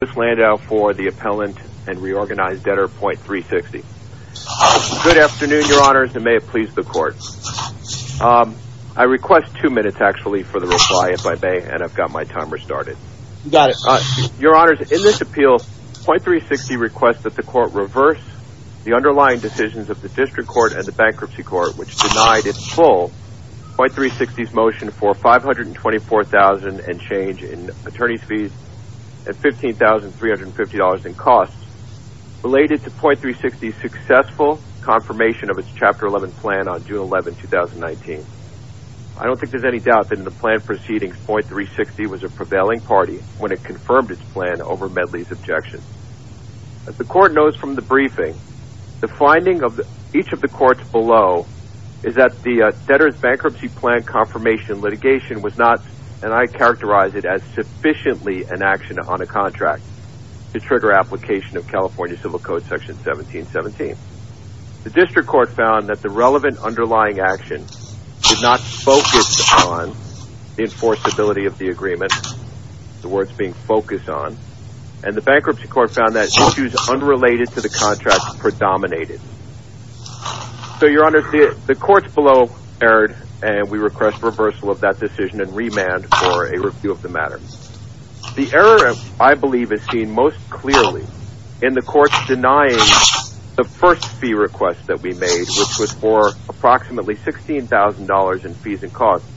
This land out for the appellant and reorganized debtor.360. Good afternoon, your honors, and may it please the court. I request two minutes, actually, for the reply, if I may, and I've got my timer started. You got it. Your honors, in this appeal,.360 requests that the court reverse the underlying decisions of the district court and the bankruptcy court, which denied in full.360's motion for $524,000 in change in attorney's fees and $15,350 in costs related to.360's successful confirmation of its Chapter 11 plan on June 11, 2019. I don't think there's any doubt that in the plan proceedings,.360 was a prevailing party when it confirmed its plan over Medley's objection. As the court knows from the briefing, the finding of each of the courts below is that the debtor's bankruptcy plan confirmation litigation was not, and I characterize it as sufficiently an action on a contract to trigger application of California Civil Code Section 1717. The district court found that the relevant underlying action did not focus on the enforceability of the agreement, the words being focus on, and the bankruptcy court found that issues unrelated to the contract predominated. So, your honors, the courts below erred, and we request reversal of that decision and remand for a review of the matter. The error, I believe, is seen most clearly in the courts denying the first fee request that we made, which was for approximately $16,000 in fees and costs,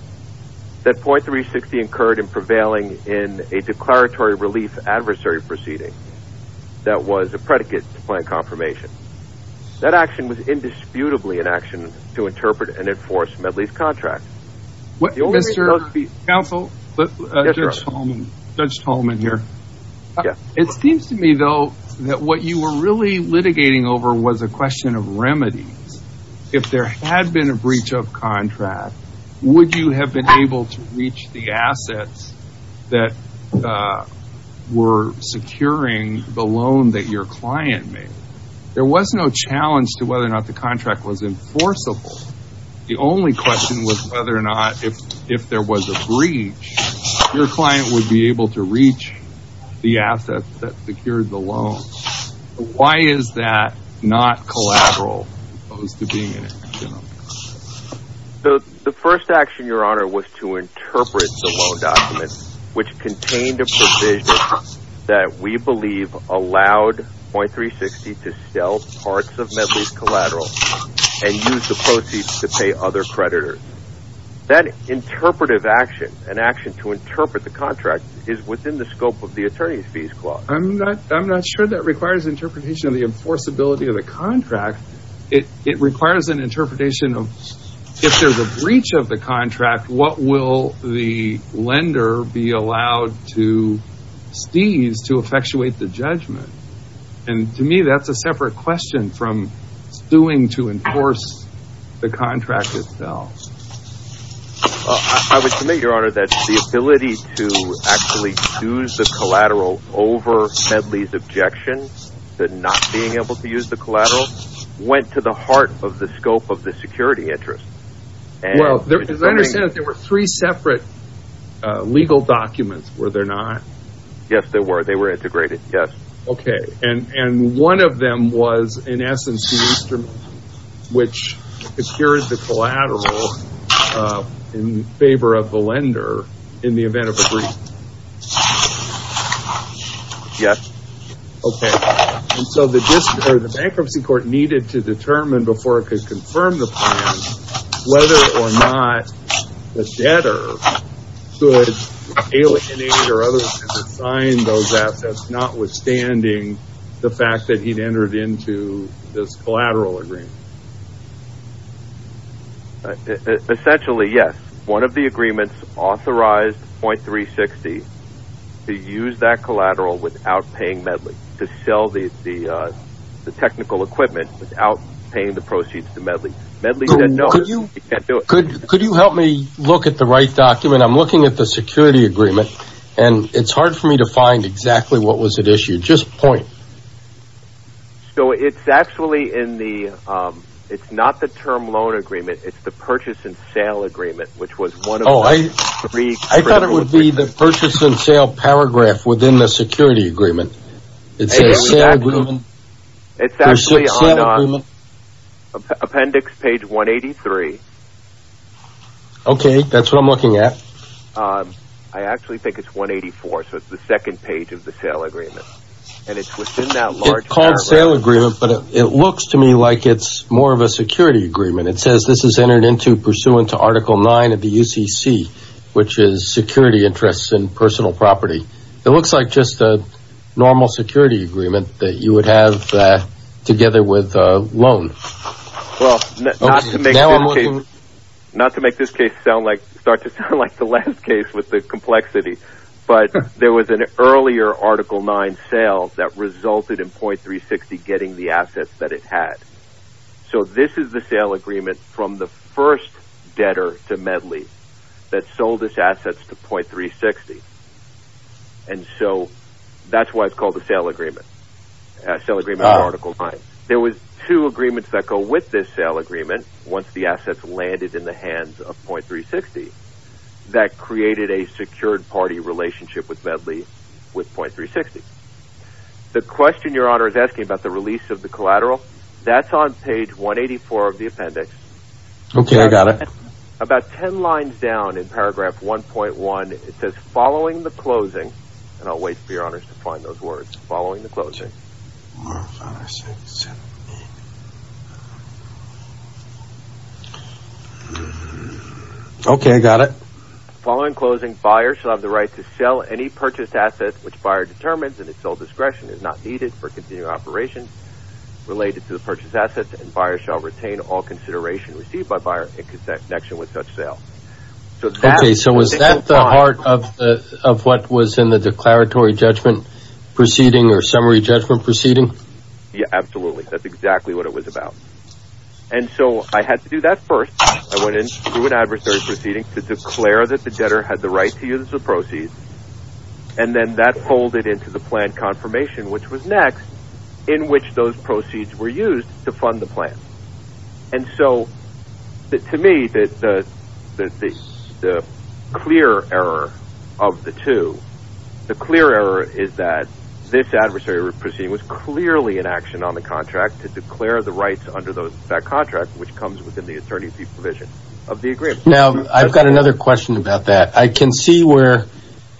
that .360 incurred in prevailing in a declaratory relief adversary proceeding that was a predicate to plan confirmation. That action was indisputably an action to interpret and enforce Medley's contract. Mr. Counsel, Judge Tolman here. It seems to me, though, that what you were really litigating over was a question of remedies. If there had been a breach of contract, would you have been able to reach the assets that were securing the loan that your client made? There was no challenge to whether or not the contract was enforceable. The only question was whether or not, if there was a breach, your client would be able to reach the assets that secured the loan. Why is that not collateral as opposed to being an action? The first action, your honor, was to interpret the loan document, which contained a provision that we believe allowed .360 to sell parts of Medley's collateral and use the proceeds to pay other creditors. That interpretive action, an action to interpret the contract, is within the scope of the attorney's fees clause. I'm not sure that requires interpretation of the enforceability of the contract. It requires an interpretation of, if there's a breach of the contract, what will the lender be allowed to seize to effectuate the judgment? To me, that's a separate question from suing to enforce the contract itself. I would submit, your honor, that the ability to actually use the collateral over Medley's objection to not being able to use the collateral went to the heart of the scope of the security interest. As I understand it, there were three separate legal documents, were there not? Yes, there were. They were integrated, yes. Okay, and one of them was, in essence, the instrument which secured the collateral in favor of the lender in the event of a breach. Yes. Okay, and so the bankruptcy court needed to determine, before it could confirm the plan, whether or not the debtor could alienate or otherwise sign those assets, notwithstanding the fact that he'd entered into this collateral agreement. Essentially, yes. One of the agreements authorized .360 to use that collateral without paying Medley, to sell the technical equipment without paying the proceeds to Medley. Medley said, no, you can't do it. Could you help me look at the right document? I'm looking at the security agreement, and it's hard for me to find exactly what was at issue. Just point. So it's actually in the, it's not the term loan agreement, it's the purchase and sale agreement, which was one of the three. Oh, I thought it would be the purchase and sale paragraph within the security agreement. It's actually on appendix page 183. Okay, that's what I'm looking at. I actually think it's 184, so it's the second page of the sale agreement, and it's within that large paragraph. It's called sale agreement, but it looks to me like it's more of a security agreement. It says this is entered into pursuant to Article 9 of the UCC, which is security interests and personal property. It looks like just a normal security agreement that you would have together with a loan. Well, not to make this case sound like, start to sound like the last case with the complexity, but there was an earlier Article 9 sale that resulted in 0.360 getting the assets that it had. So this is the sale agreement from the first debtor to Medley that sold its assets to 0.360. And so that's why it's called the sale agreement, sale agreement of Article 9. There was two agreements that go with this sale agreement once the assets landed in the hands of 0.360 that created a secured party relationship with Medley with 0.360. The question Your Honor is asking about the release of the collateral, that's on page 184 of the appendix. Okay, I got it. About 10 lines down in paragraph 1.1, it says, following the closing, and I'll wait for Your Honor to find those words, following the closing. Five, six, seven, eight. Okay, I got it. Okay, so was that the heart of what was in the declaratory judgment proceeding or summary judgment proceeding? Yeah, absolutely. That's exactly what it was about. And so I had to do that first. I went into an adversary proceeding to declare that the debtor had the right to use the proceeds. And then that folded into the plan confirmation, which was next, in which those proceeds were used to fund the plan. And so, to me, the clear error of the two, the clear error is that this adversary proceeding was clearly an action on the contract to declare the rights under that contract, which comes within the attorney fee provision of the agreement. Now, I've got another question about that. I can see where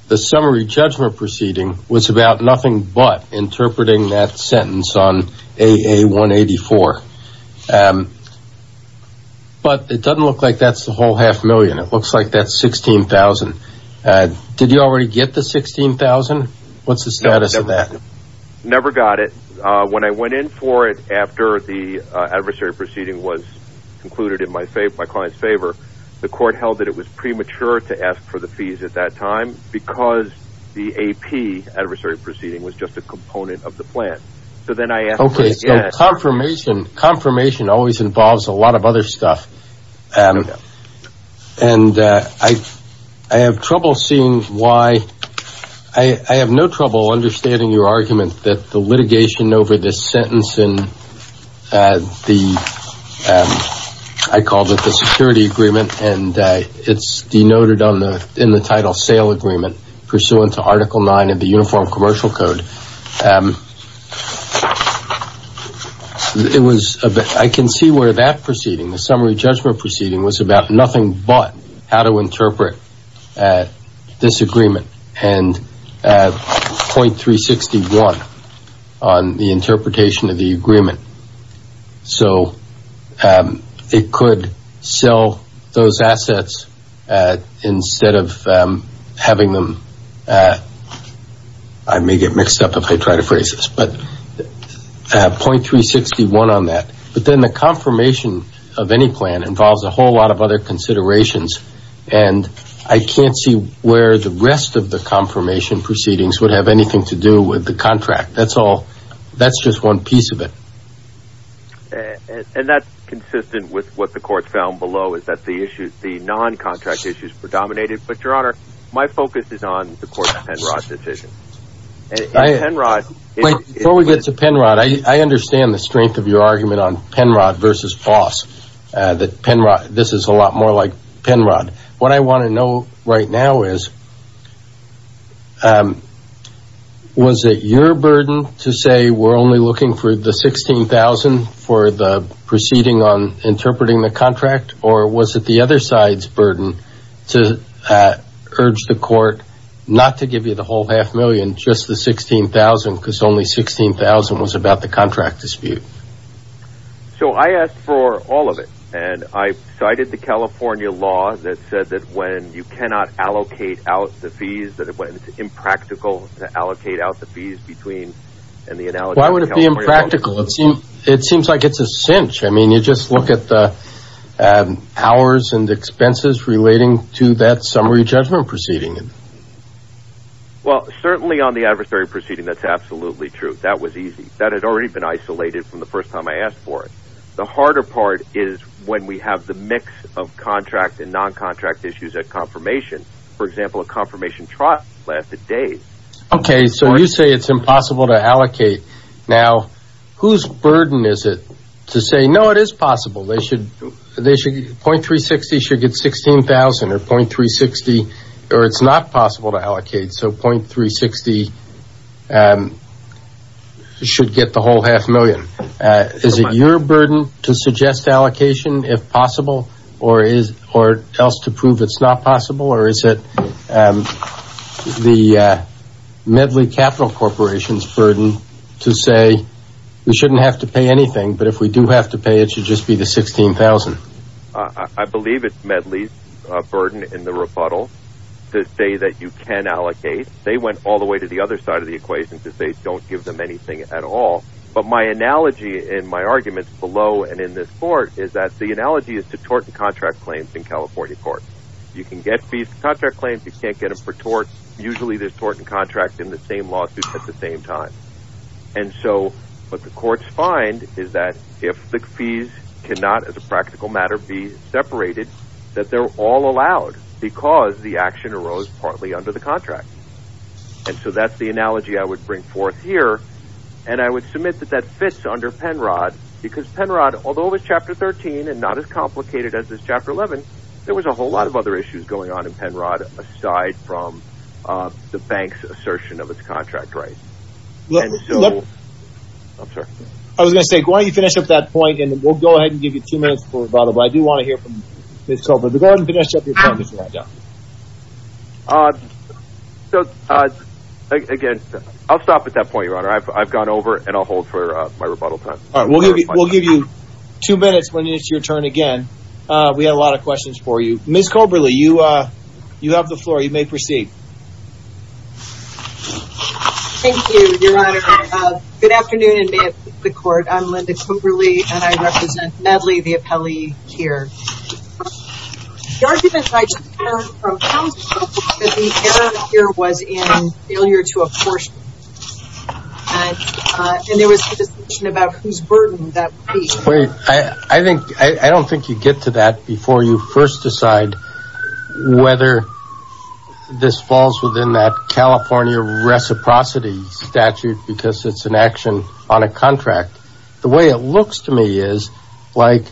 the summary judgment proceeding was about nothing but interpreting that sentence on AA184. But it doesn't look like that's the whole half million. It looks like that's $16,000. Did you already get the $16,000? What's the status of that? Never got it. When I went in for it after the adversary proceeding was concluded in my client's favor, the court held that it was premature to ask for the fees at that time because the AP adversary proceeding was just a component of the plan. So then I asked for it again. Okay, so confirmation always involves a lot of other stuff. And I have trouble seeing why – I have no trouble understanding your argument that the litigation over this sentence in the – I called it the security agreement, and it's denoted in the title sale agreement pursuant to Article 9 of the Uniform Commercial Code. It was – I can see where that proceeding, the summary judgment proceeding, was about nothing but how to interpret this agreement and .361 on the interpretation of the agreement. So it could sell those assets instead of having them – I may get mixed up if I try to phrase this, but .361 on that. But then the confirmation of any plan involves a whole lot of other considerations, and I can't see where the rest of the confirmation proceedings would have anything to do with the contract. That's all – that's just one piece of it. And that's consistent with what the court found below is that the issues – the non-contract issues predominated. But, Your Honor, my focus is on the court's Penrod decision. Penrod – Before we get to Penrod, I understand the strength of your argument on Penrod versus Foss, that Penrod – this is a lot more like Penrod. What I want to know right now is, was it your burden to say we're only looking for the $16,000 for the proceeding on interpreting the contract, or was it the other side's burden to urge the court not to give you the whole half million, just the $16,000, because only $16,000 was about the contract dispute? So I asked for all of it, and I cited the California law that said that when you cannot allocate out the fees, that it's impractical to allocate out the fees between – Why would it be impractical? It seems like it's a cinch. I mean, you just look at the hours and expenses relating to that summary judgment proceeding. Well, certainly on the adversary proceeding, that's absolutely true. That was easy. That had already been isolated from the first time I asked for it. The harder part is when we have the mix of contract and non-contract issues at confirmation. For example, a confirmation trust lasted days. Okay, so you say it's impossible to allocate. Now, whose burden is it to say, no, it is possible. They should – .360 should get $16,000, or .360 – or it's not possible to allocate. So .360 should get the whole half million. Is it your burden to suggest allocation, if possible, or else to prove it's not possible? Or is it the Medli Capital Corporation's burden to say, we shouldn't have to pay anything, but if we do have to pay, it should just be the $16,000? I believe it's Medli's burden in the rebuttal to say that you can allocate. They went all the way to the other side of the equation to say don't give them anything at all. But my analogy in my arguments below and in this court is that the analogy is to tort and contract claims in California courts. You can get fees for contract claims. You can't get them for tort. Usually, there's tort and contract in the same lawsuit at the same time. And so what the courts find is that if the fees cannot, as a practical matter, be separated, that they're all allowed because the action arose partly under the contract. And so that's the analogy I would bring forth here. And I would submit that that fits under Penrod because Penrod, although it was Chapter 13 and not as complicated as this Chapter 11, there was a whole lot of other issues going on in Penrod aside from the bank's assertion of its contract rights. And so – I'm sorry. I was going to say, why don't you finish up that point and we'll go ahead and give you two minutes for rebuttal. But I do want to hear from Ms. Coberly. Go ahead and finish up your point. Again, I'll stop at that point, Your Honor. I've gone over and I'll hold for my rebuttal time. We'll give you two minutes when it's your turn again. We had a lot of questions for you. Ms. Coberly, you have the floor. You may proceed. Thank you, Your Honor. Good afternoon, and may it be the court. I'm Linda Coberly, and I represent MADLI, the appellee here. The argument I just heard from counsel is that the error here was in failure to apportion. And there was a discussion about whose burden that would be. I don't think you get to that before you first decide whether this falls within that California reciprocity statute, because it's an action on a contract. The way it looks to me is like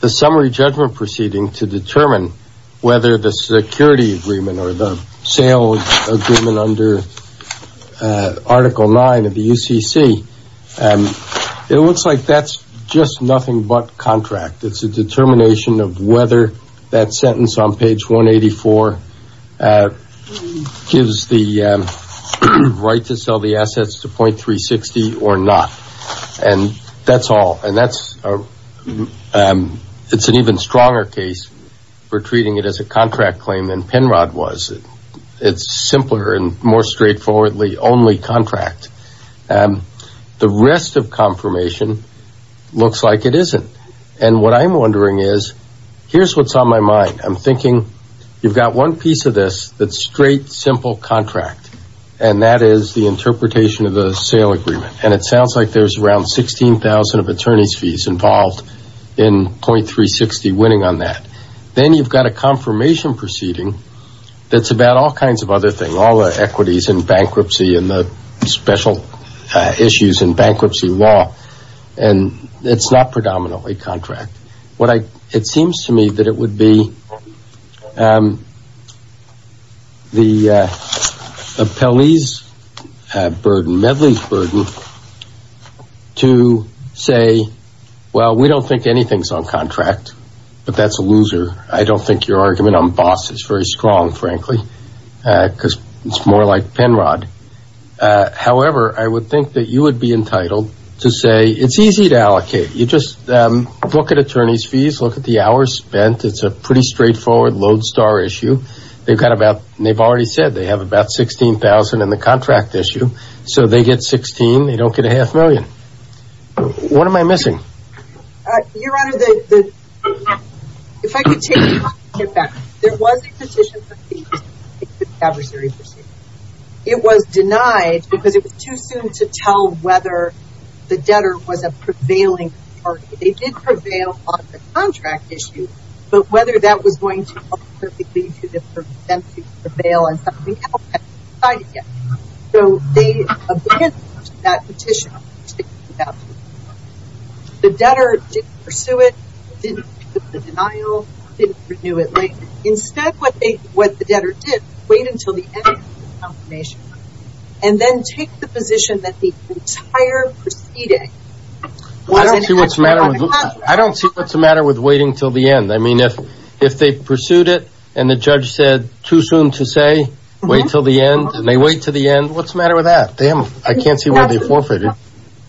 the summary judgment proceeding to determine whether the security agreement or the sale agreement under Article 9 of the UCC, it looks like that's just nothing but contract. It's a determination of whether that sentence on page 184 gives the right to sell the assets to .360 or not. And that's all. And that's an even stronger case for treating it as a contract claim than Penrod was. It's simpler and more straightforwardly only contract. The rest of confirmation looks like it isn't. And what I'm wondering is, here's what's on my mind. I'm thinking you've got one piece of this that's straight, simple contract, and that is the interpretation of the sale agreement. And it sounds like there's around 16,000 of attorney's fees involved in .360 winning on that. Then you've got a confirmation proceeding that's about all kinds of other things, all the equities and bankruptcy and the special issues in bankruptcy law. And it's not predominantly contract. It seems to me that it would be the appellee's burden, medley's burden, to say, well, we don't think anything's on contract, but that's a loser. I don't think your argument on boss is very strong, frankly, because it's more like Penrod. However, I would think that you would be entitled to say it's easy to allocate. You just look at attorney's fees, look at the hours spent. It's a pretty straightforward lodestar issue. They've got about, they've already said they have about 16,000 in the contract issue. So they get 16. They don't get a half million. What am I missing? Your Honor, if I could take a step back. There was a petition for the adversary proceeding. It was denied because it was too soon to tell whether the debtor was a prevailing party. They did prevail on the contract issue, but whether that was going to help them to prevail on something else hasn't been decided yet. So they abandoned that petition. The debtor didn't pursue it, didn't put the denial, didn't renew it. Instead, what the debtor did, wait until the end of the confirmation, and then take the position that the entire proceeding wasn't actually on the contract. I don't see what's the matter with waiting until the end. I mean, if they pursued it and the judge said too soon to say, wait until the end, and they wait until the end, what's the matter with that? I can't see where they forfeited.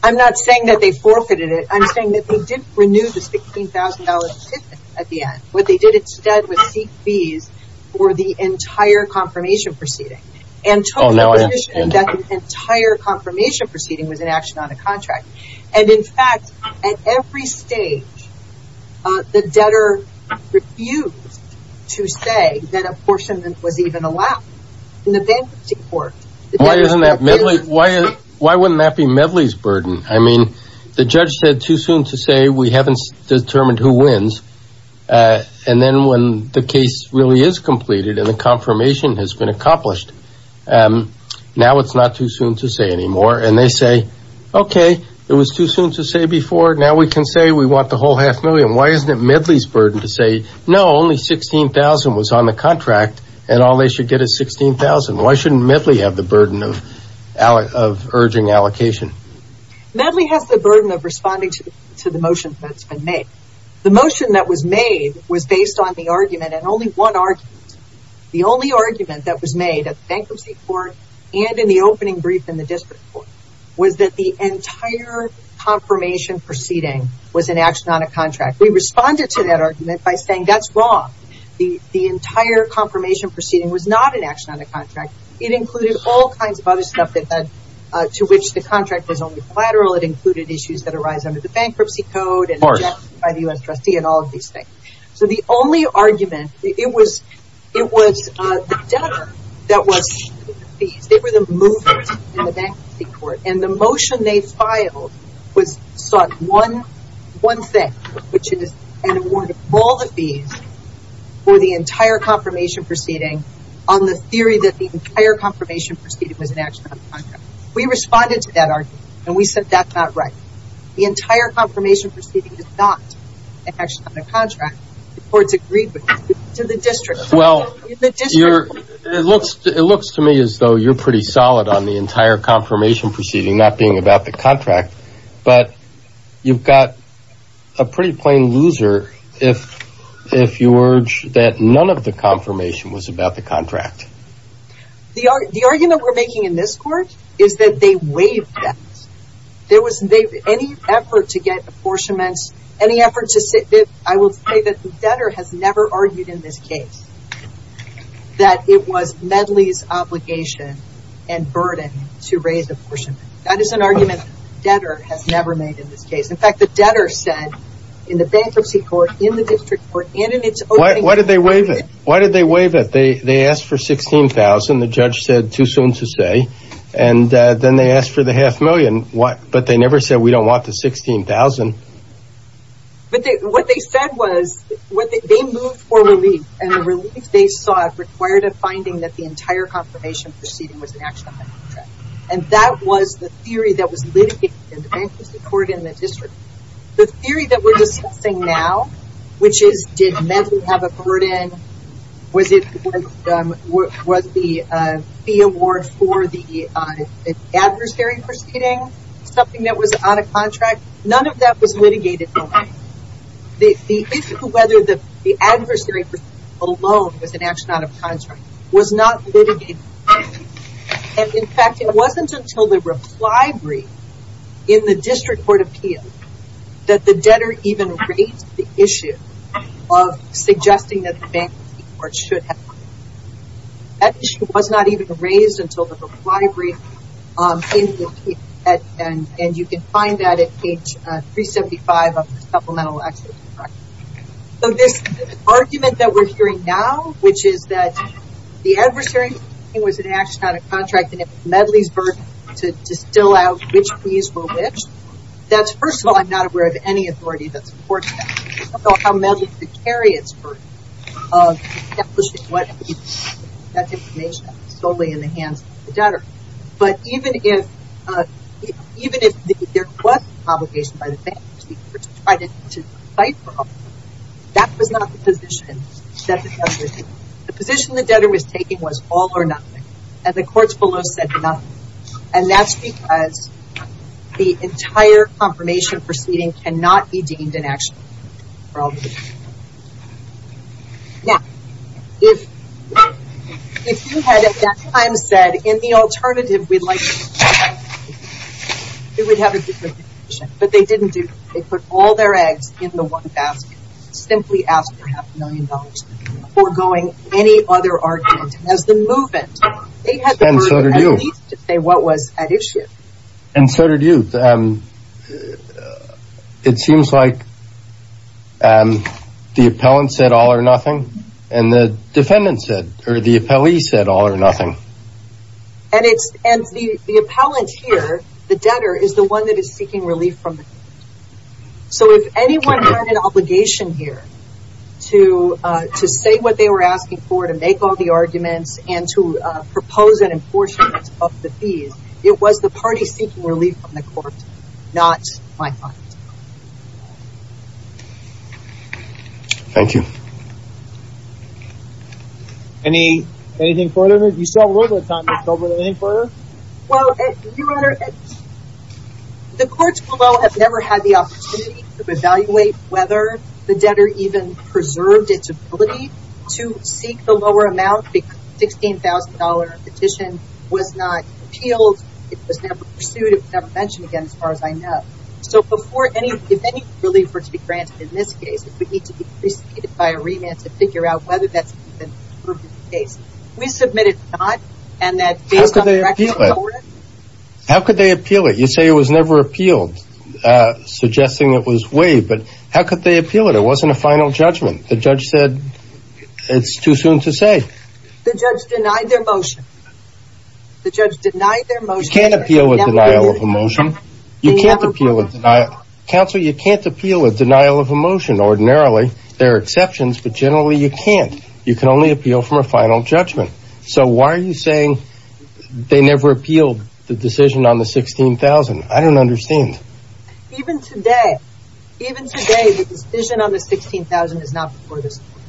I'm not saying that they forfeited it. I'm saying that they didn't renew the $16,000 ticket at the end. What they did instead was seek fees for the entire confirmation proceeding and took the position that the entire confirmation proceeding was an action on the contract. And, in fact, at every stage, the debtor refused to say that a portion was even allowed. In the bankruptcy court, the debtor's not willing to say. Why wouldn't that be Medley's burden? I mean, the judge said too soon to say. We haven't determined who wins. And then when the case really is completed and the confirmation has been accomplished, now it's not too soon to say anymore. And they say, okay, it was too soon to say before. Now we can say we want the whole half million. Why isn't it Medley's burden to say, no, only $16,000 was on the contract, and all they should get is $16,000. Why shouldn't Medley have the burden of urging allocation? Medley has the burden of responding to the motion that's been made. The motion that was made was based on the argument, and only one argument. The only argument that was made at the bankruptcy court and in the opening brief in the district court was that the entire confirmation proceeding was an action on a contract. We responded to that argument by saying that's wrong. The entire confirmation proceeding was not an action on a contract. It included all kinds of other stuff to which the contract was only collateral. It included issues that arise under the bankruptcy code and by the U.S. trustee and all of these things. So the only argument, it was the debtor that was paying the fees. They were the movement in the bankruptcy court. And the motion they filed sought one thing, which is an award of all the fees for the entire confirmation proceeding on the theory that the entire confirmation proceeding was an action on a contract. We responded to that argument, and we said that's not right. The entire confirmation proceeding is not an action on a contract, or it's agreed with. To the district. Well, it looks to me as though you're pretty solid on the entire confirmation proceeding, not being about the contract, but you've got a pretty plain loser if you urge that none of the confirmation was about the contract. The argument we're making in this court is that they waived that. There was any effort to get apportionments, any effort to say, I will say that the debtor has never argued in this case that it was Medley's obligation and burden to raise apportionment. That is an argument the debtor has never made in this case. In fact, the debtor said in the bankruptcy court, in the district court, and in its opening. Why did they waive it? They asked for $16,000. The judge said too soon to say. And then they asked for the half million, but they never said we don't want the $16,000. But what they said was, they moved for relief. And the relief they sought required a finding that the entire confirmation proceeding was an action on the contract. And that was the theory that was litigated in the bankruptcy court in the district. The theory that we're discussing now, which is, did Medley have a burden? Was the fee award for the adversary proceeding something that was out of contract? None of that was litigated. The issue of whether the adversary alone was an action out of contract was not litigated. And in fact, it wasn't until the reply brief in the district court appeal that the debtor even raised the issue of suggesting that the bankruptcy court should have it. That issue was not even raised until the reply brief. And you can find that at page 375 of the supplemental action contract. So this argument that we're hearing now, which is that the adversary was an action out of contract and it was Medley's burden to distill out which fees were which, that's, first of all, I'm not aware of any authority that supports that. I don't know how Medley could carry its burden of establishing what fees were. That's information that was solely in the hands of the debtor. But even if there was an obligation by the bankruptcy court to fight for all of them, that was not the position that the debtor was in. The position the debtor was taking was all or nothing. And the courts below said nothing. And that's because the entire confirmation proceeding cannot be deemed an action. Now, if you had at that time said, in the alternative, we'd like to do this, it would have a different position. But they didn't do that. They put all their eggs in the one basket, simply asking for half a million dollars before going any other argument. As the movement, they had the burden at least to say what was at issue. And so did you. It seems like the appellant said all or nothing and the defendant said, or the appellee said all or nothing. And the appellant here, the debtor, is the one that is seeking relief from the court. So if anyone had an obligation here to say what they were asking for, to make all the arguments, and to propose an apportionment of the fees, it was the party seeking relief from the court, not my client. Thank you. Anything further? You still have a little bit of time to cover anything further? Well, Your Honor, the courts below have never had the opportunity to evaluate whether the debtor even preserved its ability to seek the lower amount. The $16,000 petition was not appealed. It was never pursued. It was never mentioned again, as far as I know. So if any relief were to be granted in this case, it would need to be preceded by a remand to figure out whether that's the case. We submitted not. How could they appeal it? You say it was never appealed, suggesting it was waived. But how could they appeal it? It wasn't a final judgment. The judge said it's too soon to say. The judge denied their motion. The judge denied their motion. You can't appeal a denial of a motion. You can't appeal a denial. Counsel, you can't appeal a denial of a motion. Ordinarily, there are exceptions, but generally you can't. You can only appeal from a final judgment. So why are you saying they never appealed the decision on the $16,000? I don't understand. Even today, even today, the decision on the $16,000 is not before this court.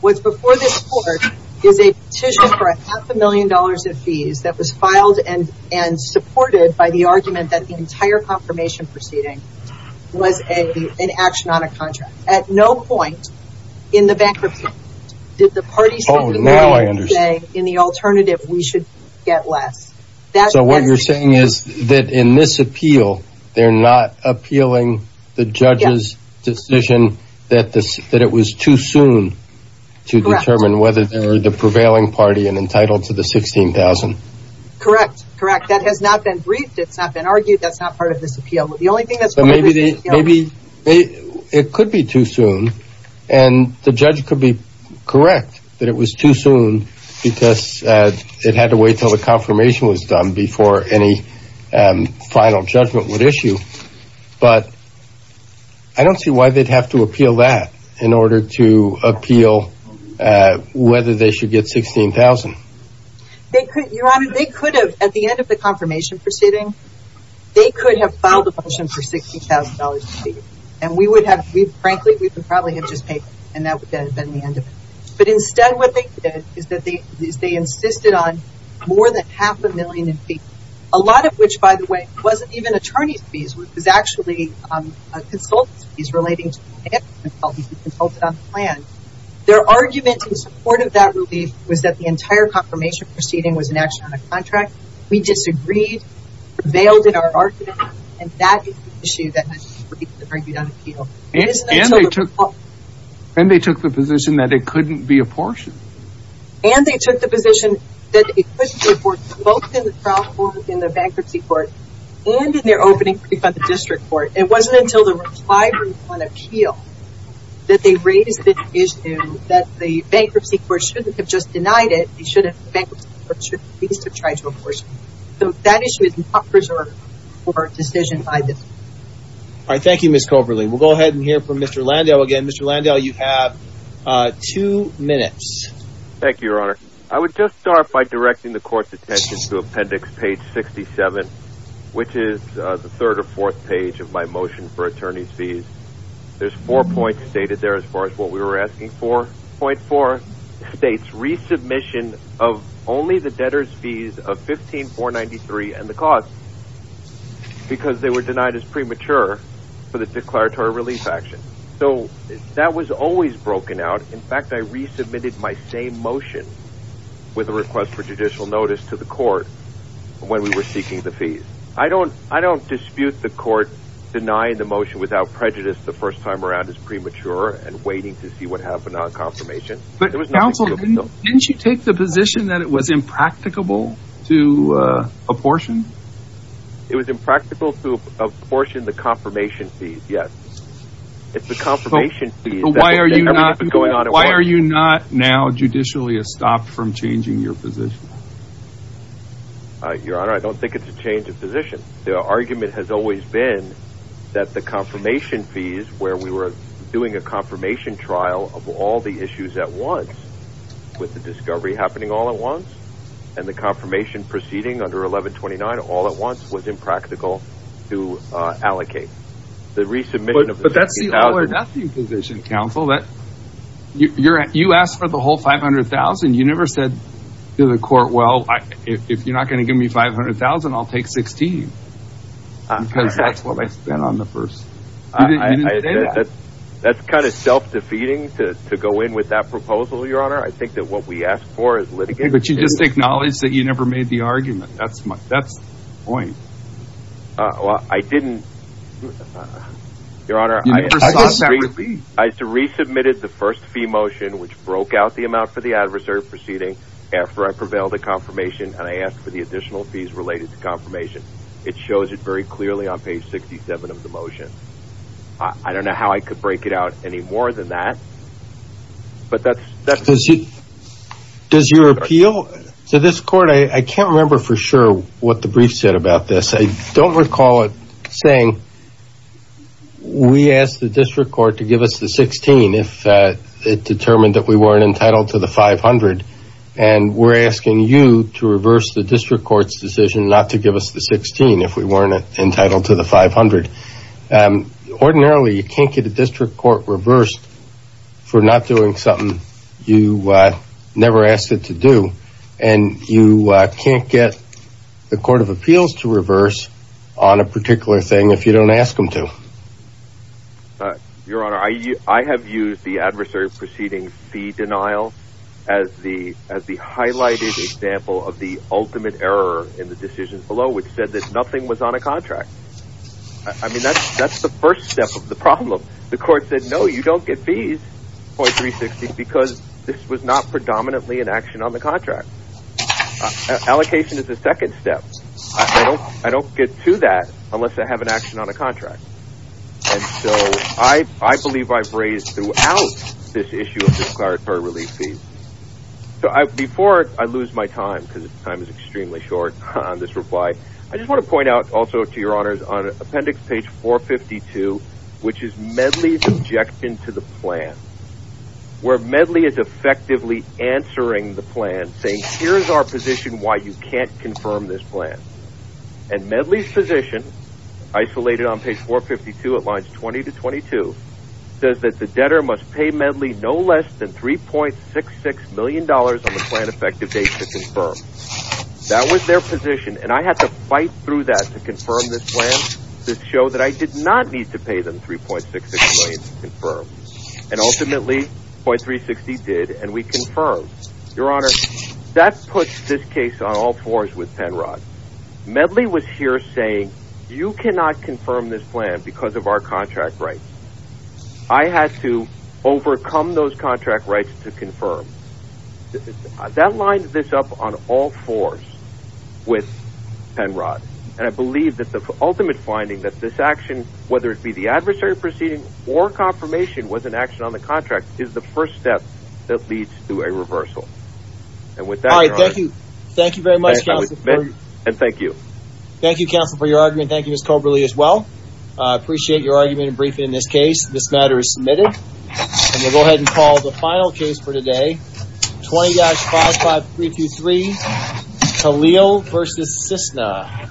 What's before this court is a petition for a half a million dollars in fees that was filed and supported by the argument that the entire confirmation proceeding was an action on a contract. At no point in the bankruptcy did the parties come together and say, in the alternative, we should get less. So what you're saying is that in this appeal, they're not appealing the judge's decision that it was too soon to determine whether they were the prevailing party and entitled to the $16,000. Correct. Correct. That has not been briefed. It's not been argued. That's not part of this appeal. The only thing that's part of this appeal. Maybe it could be too soon, and the judge could be correct that it was too soon because it had to wait until the confirmation was done before any final judgment would issue. But I don't see why they'd have to appeal that in order to appeal whether they should get $16,000. Your Honor, they could have, at the end of the confirmation proceeding, they could have filed a motion for $16,000 in fees. And we would have, frankly, we would probably have just paid, and that would have been the end of it. But, instead, what they did is they insisted on more than half a million in fees, a lot of which, by the way, wasn't even attorney's fees. It was actually a consultant's fees relating to the consultant on the plan. Their argument in support of that relief was that the entire confirmation proceeding was an action on a contract. We disagreed, prevailed in our argument, and that is the issue that has been argued on appeal. And they took the position that it couldn't be apportioned. And they took the position that it couldn't be apportioned, both in the trial court, in the bankruptcy court, and in their opening plea by the district court. It wasn't until the reply on appeal that they raised the issue that the bankruptcy court shouldn't have just denied it. The bankruptcy court should at least have tried to apportion it. So that issue is not preserved for a decision by the district court. All right. Thank you, Ms. Coberlein. We'll go ahead and hear from Mr. Landau again. Mr. Landau, you have two minutes. Thank you, Your Honor. I would just start by directing the court's attention to appendix page 67, which is the third or fourth page of my motion for attorney's fees. There's four points stated there as far as what we were asking for. Point four states resubmission of only the debtor's fees of $15,493 and the cost because they were denied as premature for the declaratory relief action. So that was always broken out. In fact, I resubmitted my same motion with a request for judicial notice to the court when we were seeking the fees. I don't dispute the court denying the motion without prejudice the first time around as premature and waiting to see what happened on confirmation. But, counsel, didn't you take the position that it was impracticable to apportion? It was impractical to apportion the confirmation fees, yes. It's the confirmation fees. Why are you not now judicially stopped from changing your position? Your Honor, I don't think it's a change of position. The argument has always been that the confirmation fees where we were doing a confirmation trial of all the issues at once with the discovery happening all at once and the confirmation proceeding under 1129 all at once was impractical to allocate. But that's the all or nothing position, counsel. You asked for the whole $500,000. You never said to the court, well, if you're not going to give me $500,000, I'll take $16,000 because that's what I spent on the first. You didn't say that. That's kind of self-defeating to go in with that proposal, Your Honor. I think that what we asked for is litigation. But you just acknowledged that you never made the argument. That's the point. Well, I didn't, Your Honor. You never sought that relief. I resubmitted the first fee motion which broke out the amount for the adversary proceeding after I prevailed at confirmation and I asked for the additional fees related to confirmation. It shows it very clearly on page 67 of the motion. I don't know how I could break it out any more than that. But that's... Does your appeal to this court, I can't remember for sure what the brief said about this. I don't recall it saying we asked the district court to give us the $16,000 if it determined that we weren't entitled to the $500,000 and we're asking you to reverse the district court's decision not to give us the $16,000 if we weren't entitled to the $500,000. Ordinarily, you can't get a district court reversed for not doing something you never asked it to do. And you can't get the Court of Appeals to reverse on a particular thing if you don't ask them to. Your Honor, I have used the adversary proceeding fee denial as the highlighted example of the ultimate error in the decision below which said that nothing was on a contract. I mean, that's the first step of the problem. The court said, no, you don't get fees, 0.360, because this was not predominantly an action on the contract. Allocation is the second step. I don't get to that unless I have an action on a contract. And so, I believe I've raised throughout this issue of disclaratory relief fees. Before I lose my time, because time is extremely short on this reply, I just want to point out also to Your Honors, on appendix page 452, which is Medley's objection to the plan, where Medley is effectively answering the plan saying, here's our position why you can't confirm this plan. And Medley's position, isolated on page 452 at lines 20 to 22, says that the debtor must pay Medley no less than $3.66 million on the plan effective date to confirm. That was their position, and I had to fight through that to confirm this plan to show that I did not need to pay them $3.66 million to confirm. And ultimately, 0.360 did, and we confirmed. Your Honor, that puts this case on all fours with Penrod. Medley was here saying, you cannot confirm this plan because of our contract rights. I had to overcome those contract rights to confirm. That lines this up on all fours with Penrod. And I believe that the ultimate finding that this action, whether it be the adversary proceeding or confirmation was an action on the contract, is the first step that leads to a reversal. And with that, Your Honor. All right, thank you. Thank you very much, Counsel. And thank you. Thank you, Counsel, for your argument. Thank you, Ms. Coberly, as well. I appreciate your argument and briefing in this case. This matter is submitted. And we'll go ahead and call the final case for today, 20-55323, Khalil v. Cisna.